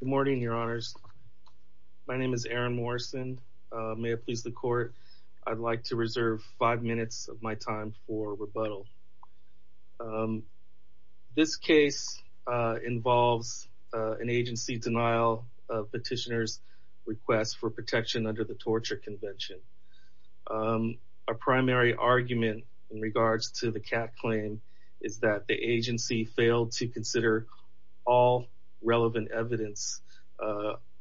Good morning, Your Honors. My name is Aaron Morrison. May it please the Court, I'd like to reserve five minutes of my time for rebuttal. This case involves an agency denial of petitioner's request for protection under the Torture Convention. Our primary argument in regards to the Kat claim is that the agency failed to consider all relevant evidence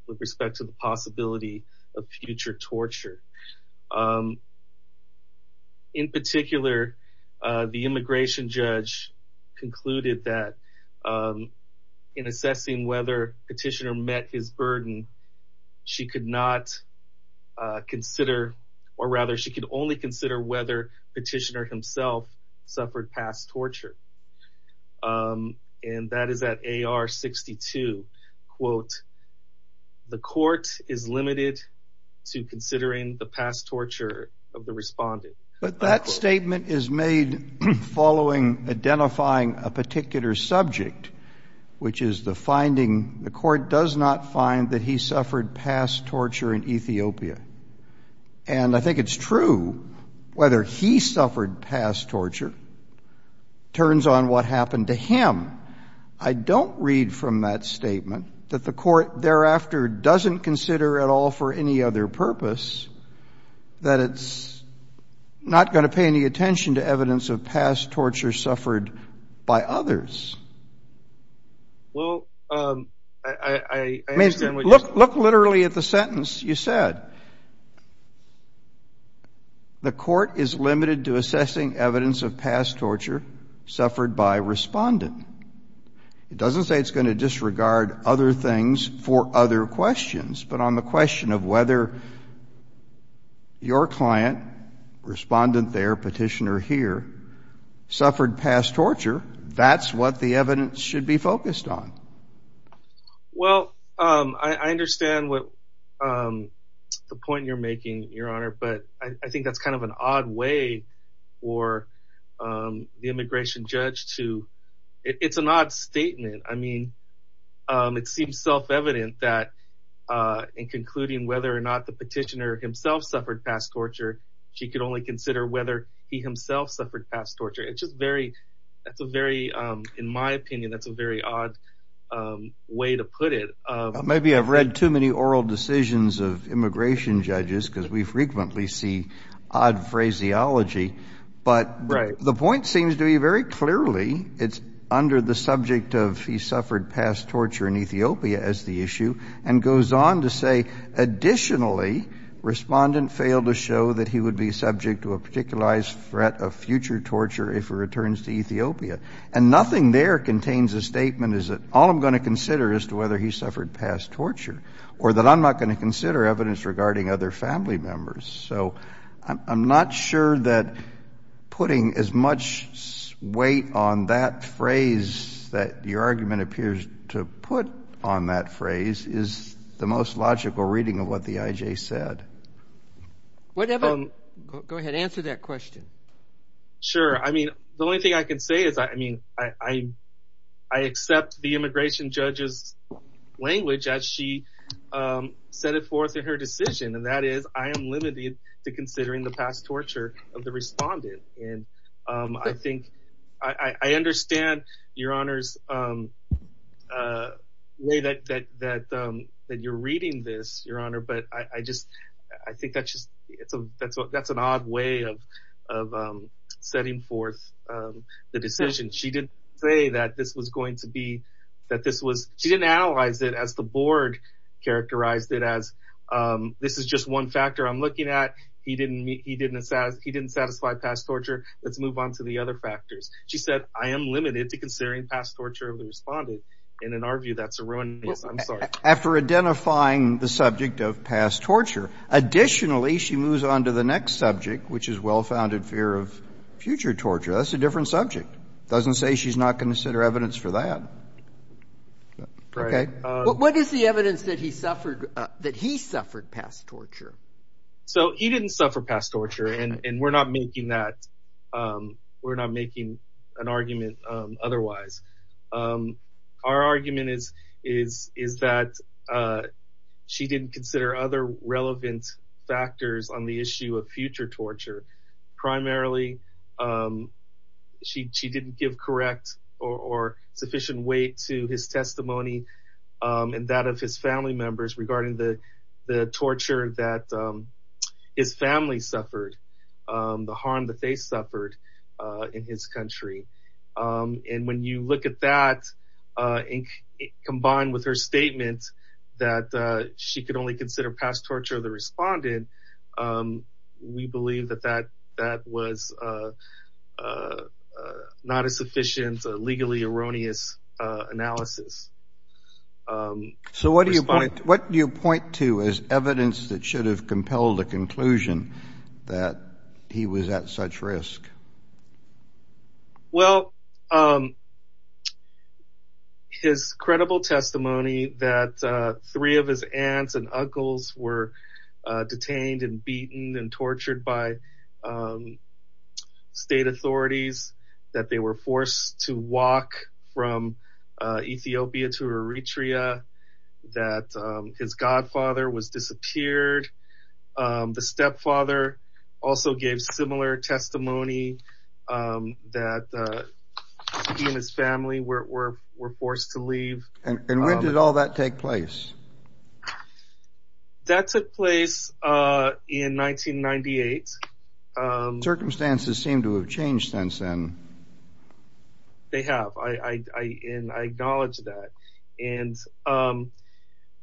with respect to the possibility of future torture. In particular, the immigration judge concluded that in assessing whether petitioner met his burden, she could not consider or rather she could only consider whether petitioner himself suffered past torture. And that is at AR 62. Quote, the court is limited to considering the past torture of the respondent. But that statement is made following identifying a particular subject, which is the finding the court does not find that he suffered past torture in Ethiopia. And I think it's true whether he suffered past torture turns on what happened to him. I don't read from that statement that the court thereafter doesn't consider at all for any other purpose that it's not going to pay any attention to evidence of past torture suffered by others. Look literally at the sentence you said. The court is limited to assessing evidence of past torture suffered by respondent. It doesn't say it's going to disregard other things for other questions, but on the question of whether your client, respondent there, petitioner here, suffered past torture, that's what the evidence should be focused on. Well, I understand what the point you're making, Your Honor, but I think that's kind of an odd way for the immigration judge to it's an odd statement. I mean, it seems self evident that in concluding whether or not the petitioner himself suffered past torture, she could only consider whether he himself suffered past torture. It's just very, that's a very, in my opinion, that's a very odd way to put it. Maybe I've read too many oral decisions of immigration judges, because we frequently see odd phraseology. But the point seems to be very clearly, it's under the subject of he suffered past torture in Ethiopia as the issue, and goes on to say, additionally, respondent failed to show that he would be subject to a particularized threat of future torture if he returns to Ethiopia. And nothing there contains a statement is that all I'm going to consider is to whether he suffered past torture, or that I'm not going to consider evidence regarding other family members. So I'm not sure that putting as much weight on that phrase that your of what the IJ said. Whatever, go ahead, answer that question. Sure. I mean, the only thing I can say is, I mean, I, I accept the immigration judges language as she set it forth in her decision. And that is, I am limited to considering the past torture of the respondent. And I think, I understand, Your Honor's way that, that, that you're reading this, Your Honor, but I just, I think that's just, it's a, that's a, that's an odd way of, of setting forth the decision. She didn't say that this was going to be that this was, she didn't analyze it as the board characterized it as, this is just one factor I'm looking at. He didn't meet, he didn't, he didn't satisfy past torture. Let's move on to the other factors. She said, I am limited to considering past torture of the respondent. And in our view, that's a ruinous, I'm sorry. After identifying the subject of past torture. Additionally, she moves on to the next subject, which is well-founded fear of future torture. That's a different subject. Doesn't say she's not going to consider evidence for that. Right. What is the evidence that he suffered, that he suffered past torture? So he didn't suffer past torture. And we're not making that, we're not making an argument otherwise. Our argument is, is, is that she didn't consider other relevant factors on the issue of future torture. Primarily, she, she didn't give correct or sufficient weight to his his family suffered, the harm that they suffered in his country. And when you look at that, combined with her statement that she could only consider past torture of the respondent, we believe that that, that was not a sufficient, legally erroneous analysis. So what do you point, what do you point to as evidence that should have compelled the conclusion that he was at such risk? Well, his credible testimony that three of his aunts and uncles were detained and beaten and tortured by state authorities, that they were forced to walk from Ethiopia to Eritrea, that his godfather was disappeared. The stepfather also gave similar testimony that he and his family were, were, were forced to leave. And when did all that take place? That took place in 1998. Circumstances seem to have changed since then. They have. I, I, I, and I acknowledge that. And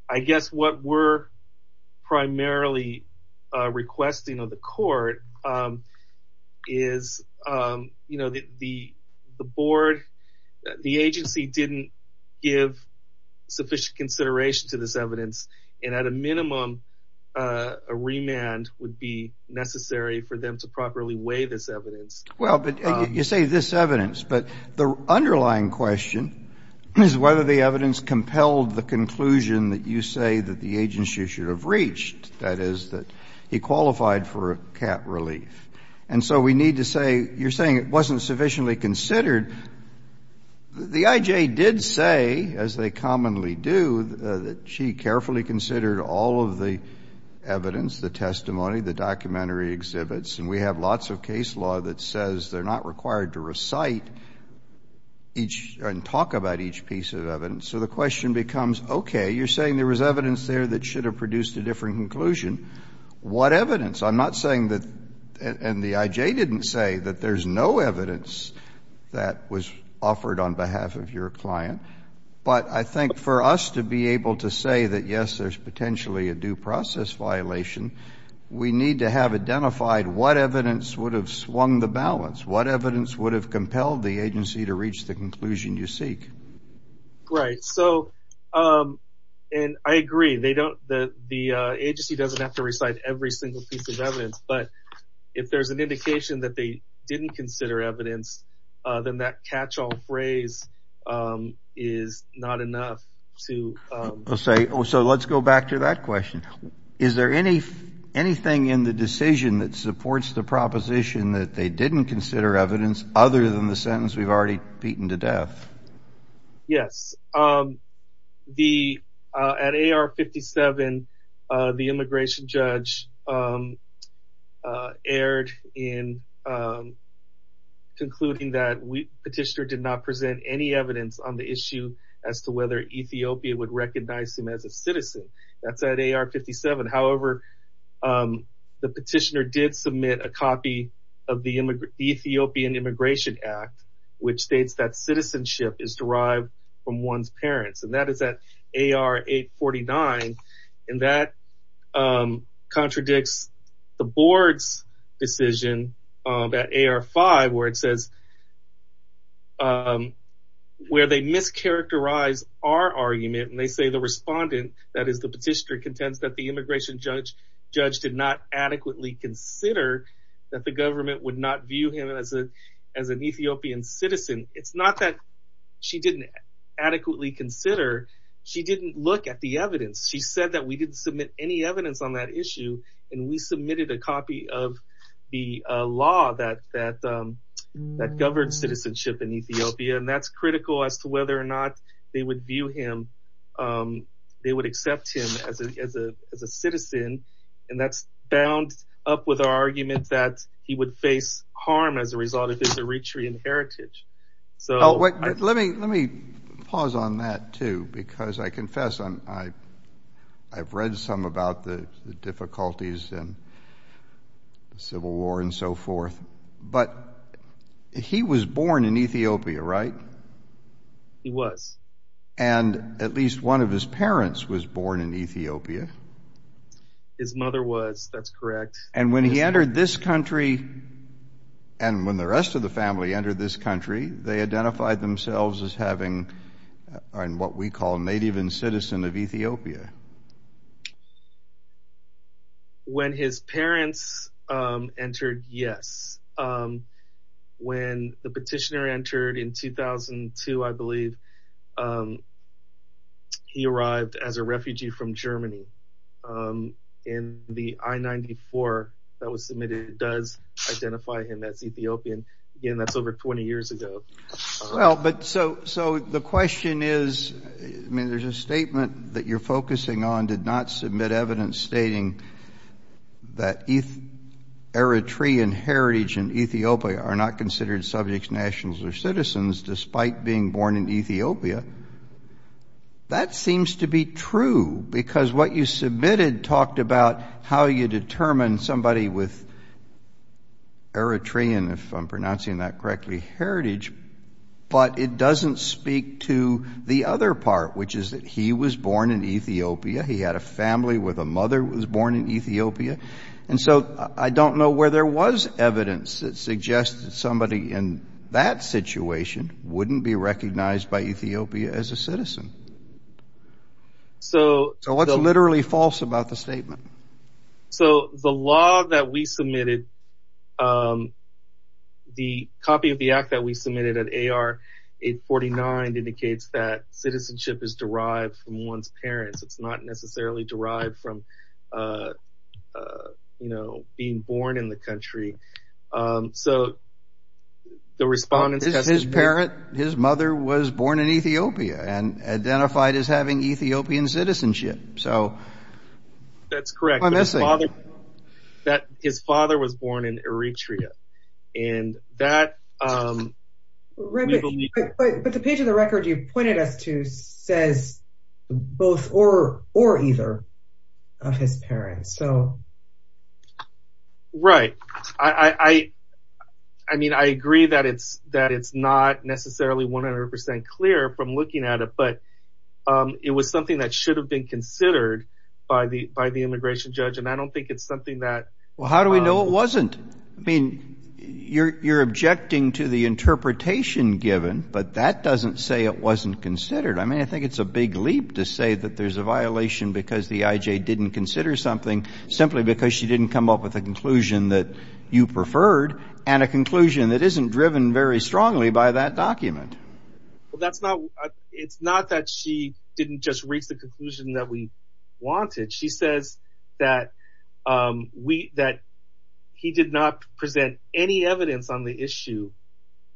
I guess what we're primarily requesting of the court is, you know, the, the board, the agency didn't give sufficient consideration to this evidence. And at a minimum, a remand would be necessary for them to properly weigh this evidence. Well, but you say this evidence, but the underlying question is whether the evidence compelled the conclusion that you say that the agency should have The IJ did say, as they commonly do, that she carefully considered all of the evidence, the testimony, the documentary exhibits. And we have lots of case law that says they're not required to recite each and talk about each piece of evidence. So the question becomes, okay, you're saying there was evidence there that should have produced a different conclusion. What evidence? I'm not saying that, and the IJ didn't say that there's no evidence that was offered on behalf of your client. But I think for us to be able to say that, yes, there's potentially a due process violation, we need to have identified what evidence would have swung the balance. What evidence would have compelled the agency to reach the conclusion you seek? Right. So, and I agree, they don't, the agency doesn't have to recite every single piece of evidence. But if there's an indication that they didn't consider evidence, then that catch all phrase is not enough to say. So let's go back to that question. Is there any anything in the decision that supports the proposition that they didn't consider evidence other than the sentence we've already beaten to death? Yes. The, at AR-57, the immigration judge erred in concluding that petitioner did not present any evidence on the issue as to whether Ethiopia would recognize him as a citizen. That's at AR-57. However, the petitioner did submit a copy of the Ethiopian Immigration Act, which states that citizenship is derived from one's parents. And that is at AR-849. And that contradicts the board's decision that AR-5, where it says, where they mischaracterize our argument. And they say the respondent, that is the petitioner, contends that the immigration judge did not adequately consider that the government would not view him as an Ethiopian citizen. It's not that she didn't adequately consider. She didn't look at the evidence. She said that we didn't submit any evidence on that issue. And we submitted a copy of the law that governed citizenship in Ethiopia. And that's critical as to whether or not they would view him, they would accept him as a citizen. And that's bound up with our argument that he would face harm as a result of his Eritrean heritage. So let me let me pause on that, too, because I confess I've read some about the difficulties and the Civil War and so forth. But he was born in Ethiopia, right? He was. And at least one of his parents was born in Ethiopia. His mother was, that's correct. And when he entered this country and when the rest of the family entered this country, they identified themselves as having what we call a native and citizen of Ethiopia. When his parents entered, yes, when the petitioner entered in 2002, I believe. He arrived as a refugee from Germany. And the I-94 that was submitted does identify him as Ethiopian. Again, that's over 20 years ago. Well, but so so the question is, I mean, there's a statement that you're focusing on did not submit evidence stating that Eritrean heritage in Ethiopia are not considered subjects, nationals or citizens despite being born in Ethiopia. That seems to be true because what you submitted talked about how you determine somebody with Eritrean, if I'm pronouncing that correctly, heritage, but it doesn't speak to the other part, which is that he was born in Ethiopia. He had a family where the mother was born in Ethiopia. And so I don't know where there was evidence that suggested somebody in that situation wouldn't be recognized by Ethiopia as a citizen. So what's literally false about the statement? So the law that we submitted, the copy of the act that we submitted at AR 849 indicates that citizenship is derived from one's parents. It's not necessarily derived from, you know, being born in the country. So the respondents. His parent, his mother was born in Ethiopia and identified as having Ethiopian citizenship. So that's correct. I'm guessing that his father was born in Eritrea and that. But the page of the record you pointed us to says both or or either of his parents, so. Right. I mean, I agree that it's that it's not necessarily 100 percent clear from looking at it, but it was something that should have been considered by the by the immigration judge. And I don't think it's something that. Well, how do we know it wasn't? I mean, you're you're objecting to the interpretation given, but that doesn't say it wasn't considered. I mean, I think it's a big leap to say that there's a violation because the IJ didn't consider something simply because she didn't come up with a conclusion that you preferred and a conclusion that isn't driven very strongly by that document. Well, that's not it's not that she didn't just reach the conclusion that we wanted. She says that we that he did not present any evidence on the issue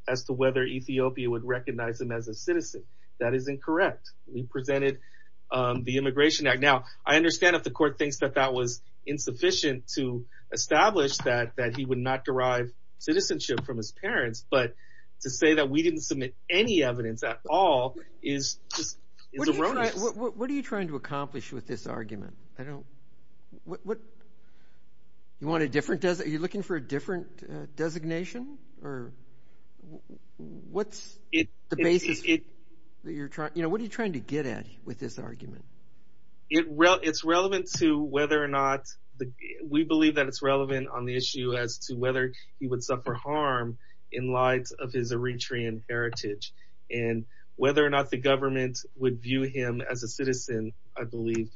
as to whether Ethiopia would recognize him as a citizen. That is incorrect. We presented the Immigration Act. Now, I understand if the court thinks that that was insufficient to establish that that he would not derive citizenship from his parents. But to say that we didn't submit any evidence at all is just what are you trying to accomplish with this argument? I don't know what you want. A different desert. You're looking for a different designation or what's the basis that you're trying. You know, what are you trying to get at with this argument? It it's relevant to whether or not we believe that it's relevant on the issue as to whether he would suffer harm in light of his Eritrean heritage and whether or not the government would view him as a citizen. I believe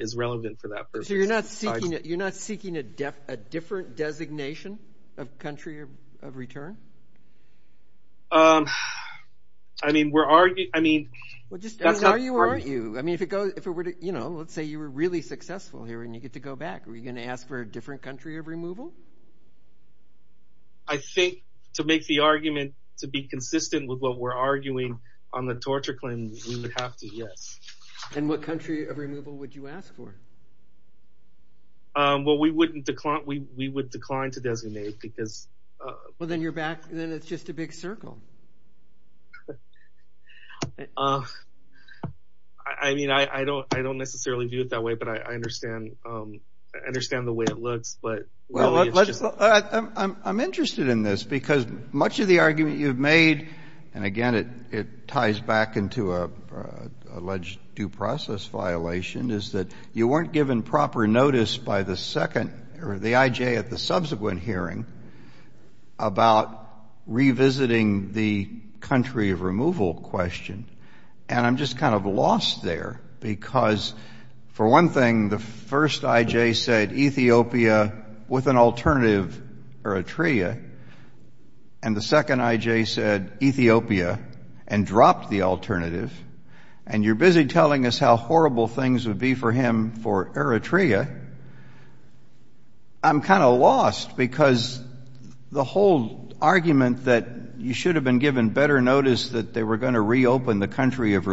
is relevant for that. So you're not seeking it. You're not seeking a different designation of country of return. I mean, we're arguing. I mean, we'll just tell you, aren't you? I mean, if it goes if it were to you know, let's say you were really successful here and you get to go back. Are you going to ask for a different country of removal? I think to make the argument to be consistent with what we're arguing on the torture claim, we would have to. Yes. And what country of removal would you ask for? Well, we wouldn't decline. We would decline to designate because. Well, then you're back. Then it's just a big circle. I mean, I don't I don't necessarily do it that way, but I understand. I understand the way it looks, but. Well, I'm interested in this because much of the argument you've made and again, it ties back into a alleged due process violation is that you weren't given proper notice by the second or the IJ at the subsequent hearing. About revisiting the country of removal question, and I'm just kind of lost there because, for one thing, the first IJ said Ethiopia with an alternative Eritrea and the second IJ said Ethiopia and dropped the alternative. And you're busy telling us how horrible things would be for him for Eritrea. I'm kind of lost because the whole argument that you should have been given better notice that they were going to reopen the country of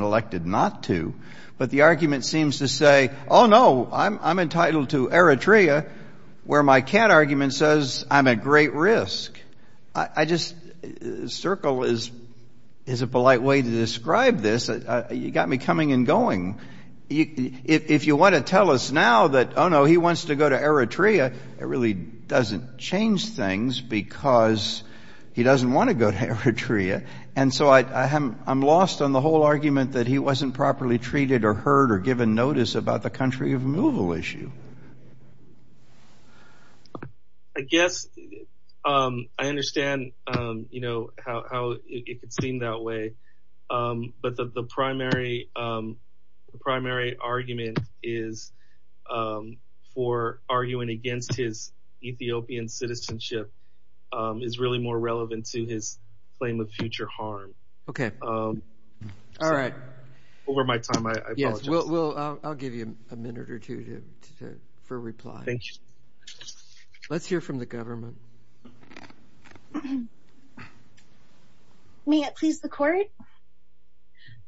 elected not to. But the argument seems to say, oh, no, I'm entitled to Eritrea where my cat argument says I'm at great risk. I just circle is is a polite way to describe this. You got me coming and going. If you want to tell us now that, oh, no, he wants to go to Eritrea. It really doesn't change things because he doesn't want to go to Eritrea. And so I'm lost on the whole argument that he wasn't properly treated or heard or given notice about the country of removal issue. I guess I understand how it could seem that way, but the primary argument is for arguing against his Ethiopian citizenship is really more relevant to his claim of future harm. OK. All right. Over my time, I guess we'll I'll give you a minute or two to for reply. Thank you. Let's hear from the government. May it please the court.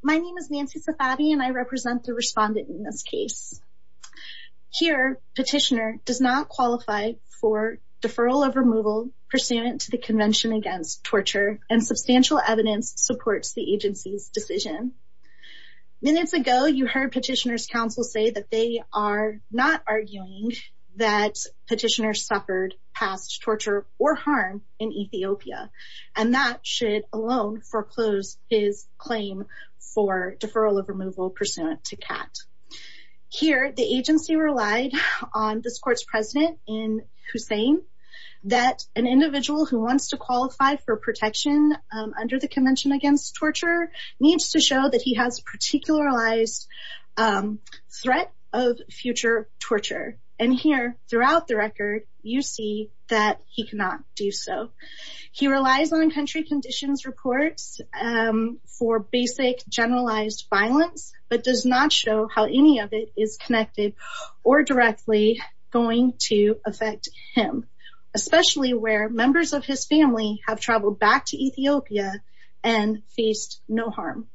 My name is Nancy Safabi and I represent the respondent in this case. Here, petitioner does not qualify for deferral of removal pursuant to the Convention against Torture and substantial evidence supports the agency's decision. Minutes ago, you heard petitioners counsel say that they are not arguing that petitioner suffered past torture or harm in Ethiopia and that should alone foreclose his claim for deferral of removal pursuant to CAT. Here, the agency relied on this court's president in Hussein that an individual who wants to qualify for protection under the Convention against Torture needs to show that he has particularized threat of future torture. And here throughout the record, you see that he cannot do so. He relies on country conditions reports for basic generalized violence, but does not show how any of it is connected or directly going to affect him, especially where members of his family have traveled back to Ethiopia and faced no harm.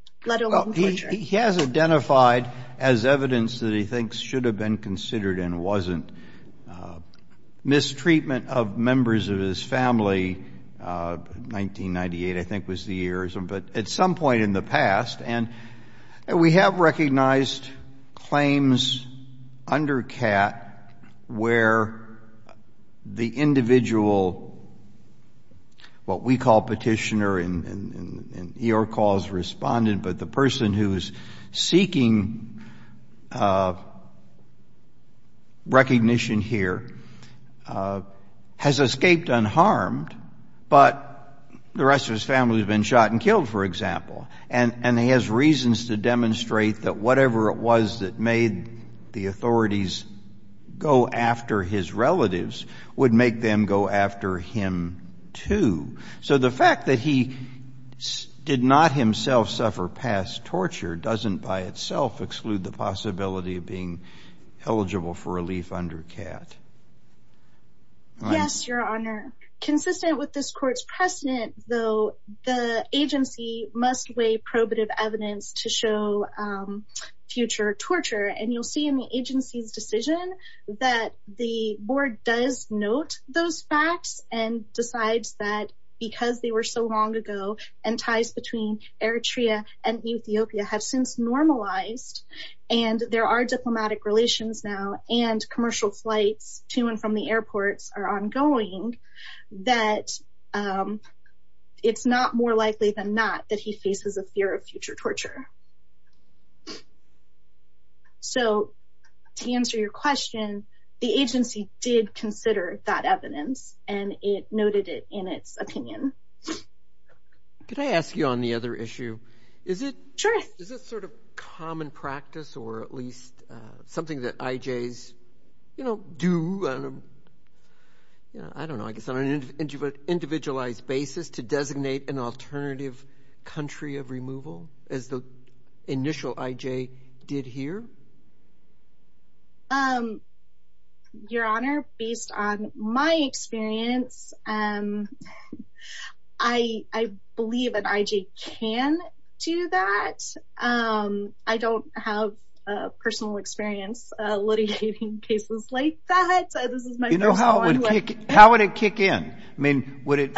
He has identified as evidence that he thinks should have been considered and wasn't mistreatment of members of his family, 1998, I think was the year, but at some point in the past. And we have recognized claims under CAT where the individual, what we call petitioner in your cause, respondent, but the person who is seeking recognition here, has escaped unharmed, but the rest of his family has been shot and killed, for example. And he has reasons to demonstrate that whatever it was that made the authorities go after his relatives would make them go after him, too. So the fact that he did not himself suffer past torture doesn't by itself exclude the possibility of being eligible for relief under CAT. Yes, Your Honor. Consistent with this court's precedent, though, the agency must weigh probative evidence to show future torture. And you'll see in the agency's decision that the board does note those facts and decides that because they were so long ago and ties between Eritrea and Ethiopia have since normalized, and there are diplomatic relations now and commercial flights to and from the airports are ongoing, that it's not more likely than not that he faces a fear of future torture. So to answer your question, the agency did consider that evidence and it noted it in its opinion. Could I ask you on the other issue? Is it sort of common practice or at least something that IJs, you know, do, I don't know, I guess on an individualized basis to designate an alternative country of removal as the initial IJ did here? Your Honor, based on my experience, I believe an IJ can do that. I don't have personal experience litigating cases like that. How would it kick in? I mean, would it,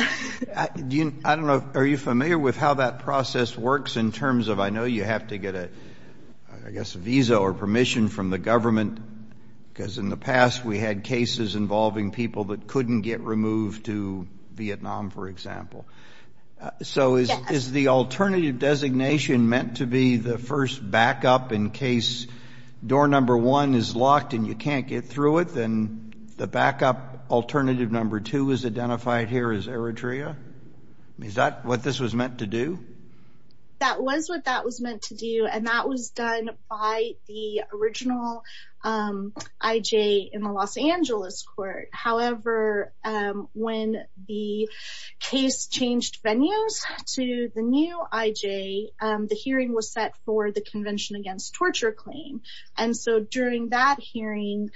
I don't know, are you familiar with how that process works in terms of I know you have to get a, I guess, a visa or permission from the government? Because in the past we had cases involving people that couldn't get removed to Vietnam, for example. So is the alternative designation meant to be the first backup in case door number one is locked and you can't get through it, then the backup alternative number two is identified here as Eritrea? Is that what this was meant to do? That was what that was meant to do and that was done by the original IJ in the Los Angeles court. However, when the case changed venues to the new IJ, the hearing was set for the Convention Against Torture claim. And so during that hearing,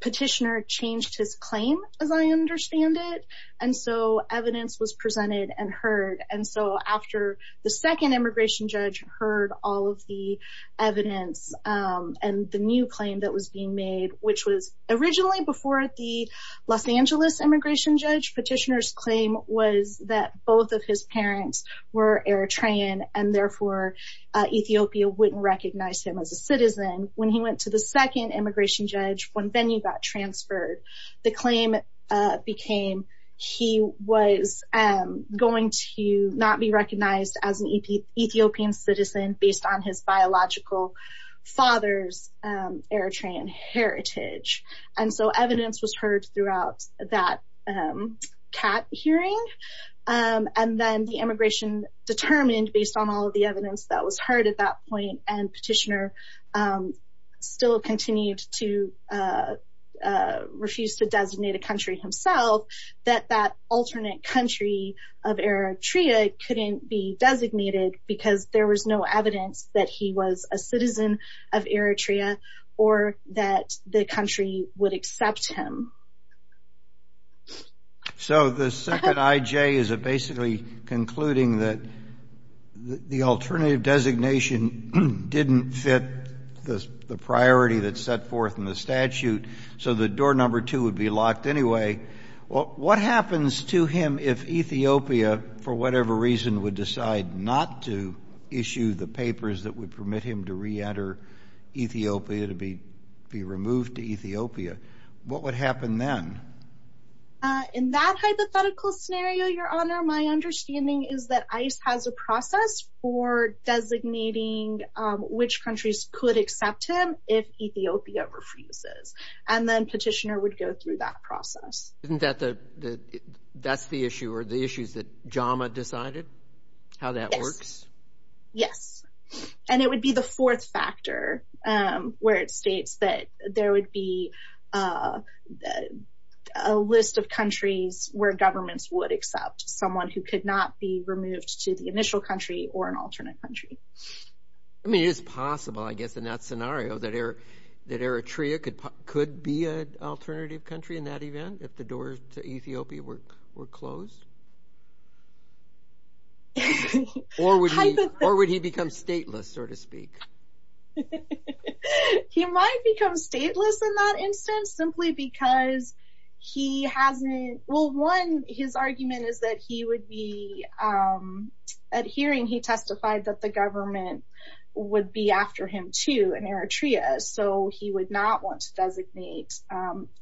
petitioner changed his claim, as I understand it, and so evidence was presented and heard. And so after the second immigration judge heard all of the evidence and the new claim that was being made, which was originally before the Los Angeles immigration judge, petitioner's claim was that both of his parents were Eritrean and therefore Ethiopia wouldn't recognize him as a citizen. And when he went to the second immigration judge, when venue got transferred, the claim became he was going to not be recognized as an Ethiopian citizen based on his biological father's Eritrean heritage. And so evidence was heard throughout that CAT hearing and then the immigration determined, based on all of the evidence that was heard at that point and petitioner still continued to refuse to designate a country himself, that that alternate country of Eritrea couldn't be designated because there was no evidence that he was a citizen of Eritrea or that the country would accept him. So the second IJ is basically concluding that the alternative designation didn't fit the priority that's set forth in the statute, so the door number two would be locked anyway. What happens to him if Ethiopia, for whatever reason, would decide not to issue the papers that would permit him to re-enter Ethiopia to be removed to Ethiopia? What would happen then? In that hypothetical scenario, Your Honor, my understanding is that ICE has a process for designating which countries could accept him if Ethiopia refuses and then petitioner would go through that process. Isn't that the, that's the issue or the issues that JAMA decided? How that works? Yes. And it would be the fourth factor where it states that there would be a list of countries where governments would accept someone who could not be removed to the initial country or an alternate country. I mean, it is possible, I guess, in that scenario that Eritrea could be an alternative country in that event if the doors to Ethiopia were closed? Or would he become stateless, so to speak? He might become stateless in that instance, simply because he hasn't, well, one, his argument is that he would be, at hearing he testified that the government would be after him too in Eritrea, so he would not want to designate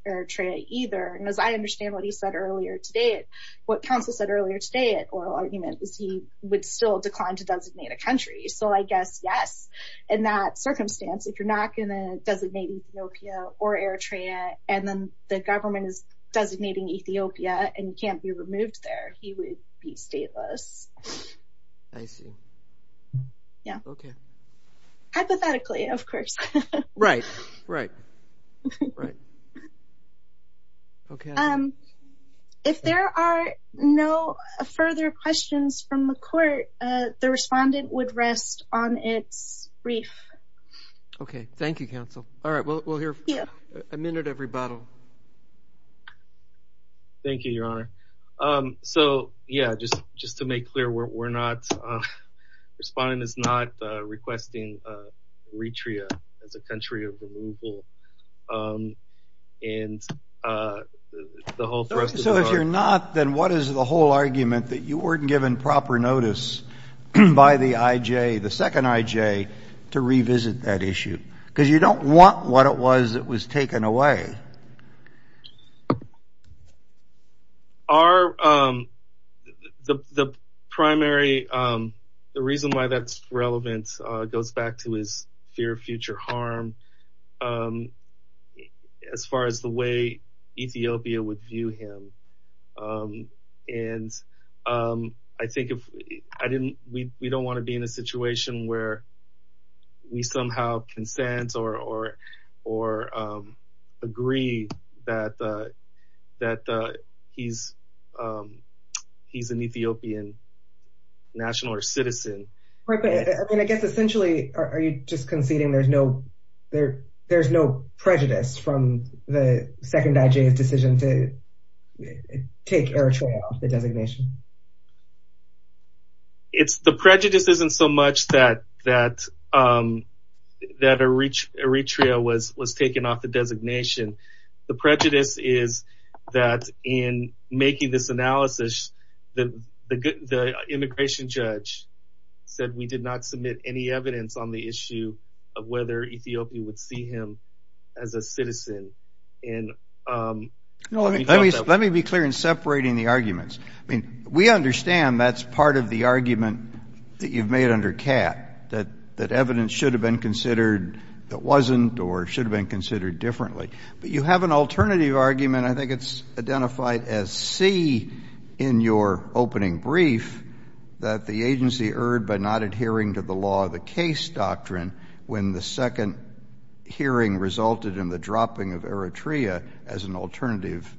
Eritrea either. And as I understand what he said earlier today, what counsel said earlier today at oral argument is he would still decline to designate a country. So I guess, yes, in that circumstance, if you're not going to designate Ethiopia or Eritrea, and then the government is designating Ethiopia and you can't be removed there, he would be stateless. I see. Yeah. Okay. Hypothetically, of course. Right. Right. Right. If there are no further questions from the court, the respondent would rest on its brief. Okay. Thank you, counsel. All right. We'll hear a minute of rebuttal. So, yeah, just to make clear, we're not, the respondent is not requesting Eritrea as a country of removal. So if you're not, then what is the whole argument that you weren't given proper notice by the IJ, the second IJ, to revisit that issue? Because you don't want what it was that was taken away. Our, the primary, the reason why that's relevant goes back to his fear of future harm as far as the way Ethiopia would view him. And I think if I didn't, we don't want to be in a situation where we somehow consent or agree that he's an Ethiopian national or citizen. Right. But I guess essentially, are you just conceding there's no prejudice from the second IJ's decision to take Eritrea off the designation? It's, the prejudice isn't so much that Eritrea was taken off the designation. The prejudice is that in making this analysis, the immigration judge said we did not submit any evidence on the issue of whether Ethiopia would see him as a citizen. Let me be clear in separating the arguments. I mean, we understand that's part of the argument that you've made under CAT, that evidence should have been considered that wasn't or should have been considered differently. But you have an alternative argument. I think it's identified as C in your opening brief, that the agency erred by not adhering to the law of the case doctrine when the second hearing resulted in the dropping of Eritrea as an alternative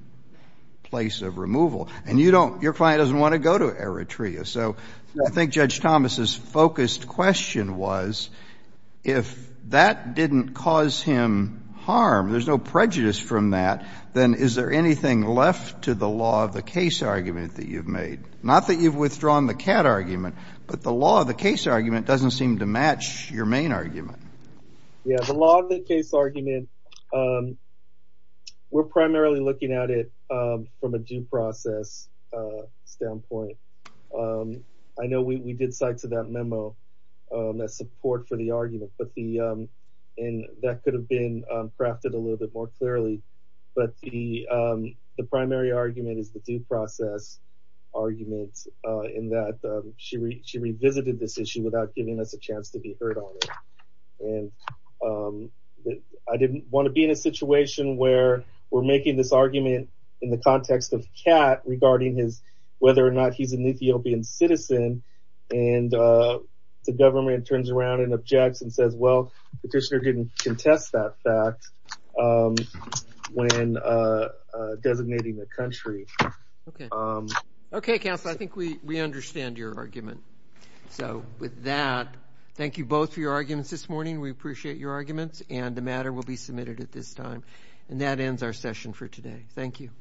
place of removal. And you don't, your client doesn't want to go to Eritrea. So I think Judge Thomas's focused question was, if that didn't cause him harm, there's no prejudice from that, then is there anything left to the law of the case argument that you've made? Not that you've withdrawn the CAT argument, but the law of the case argument doesn't seem to match your main argument. Yeah, the law of the case argument, we're primarily looking at it from a due process standpoint. I know we did cite to that memo that support for the argument, and that could have been crafted a little bit more clearly. But the primary argument is the due process argument in that she revisited this issue without giving us a chance to be heard on it. And I didn't want to be in a situation where we're making this argument in the context of CAT regarding his, whether or not he's an Ethiopian citizen. And the government turns around and objects and says, well, the petitioner didn't contest that fact when designating the country. Okay. Okay, counsel, I think we understand your argument. So with that, thank you both for your arguments this morning. We appreciate your arguments, and the matter will be submitted at this time. And that ends our session for today. Thank you.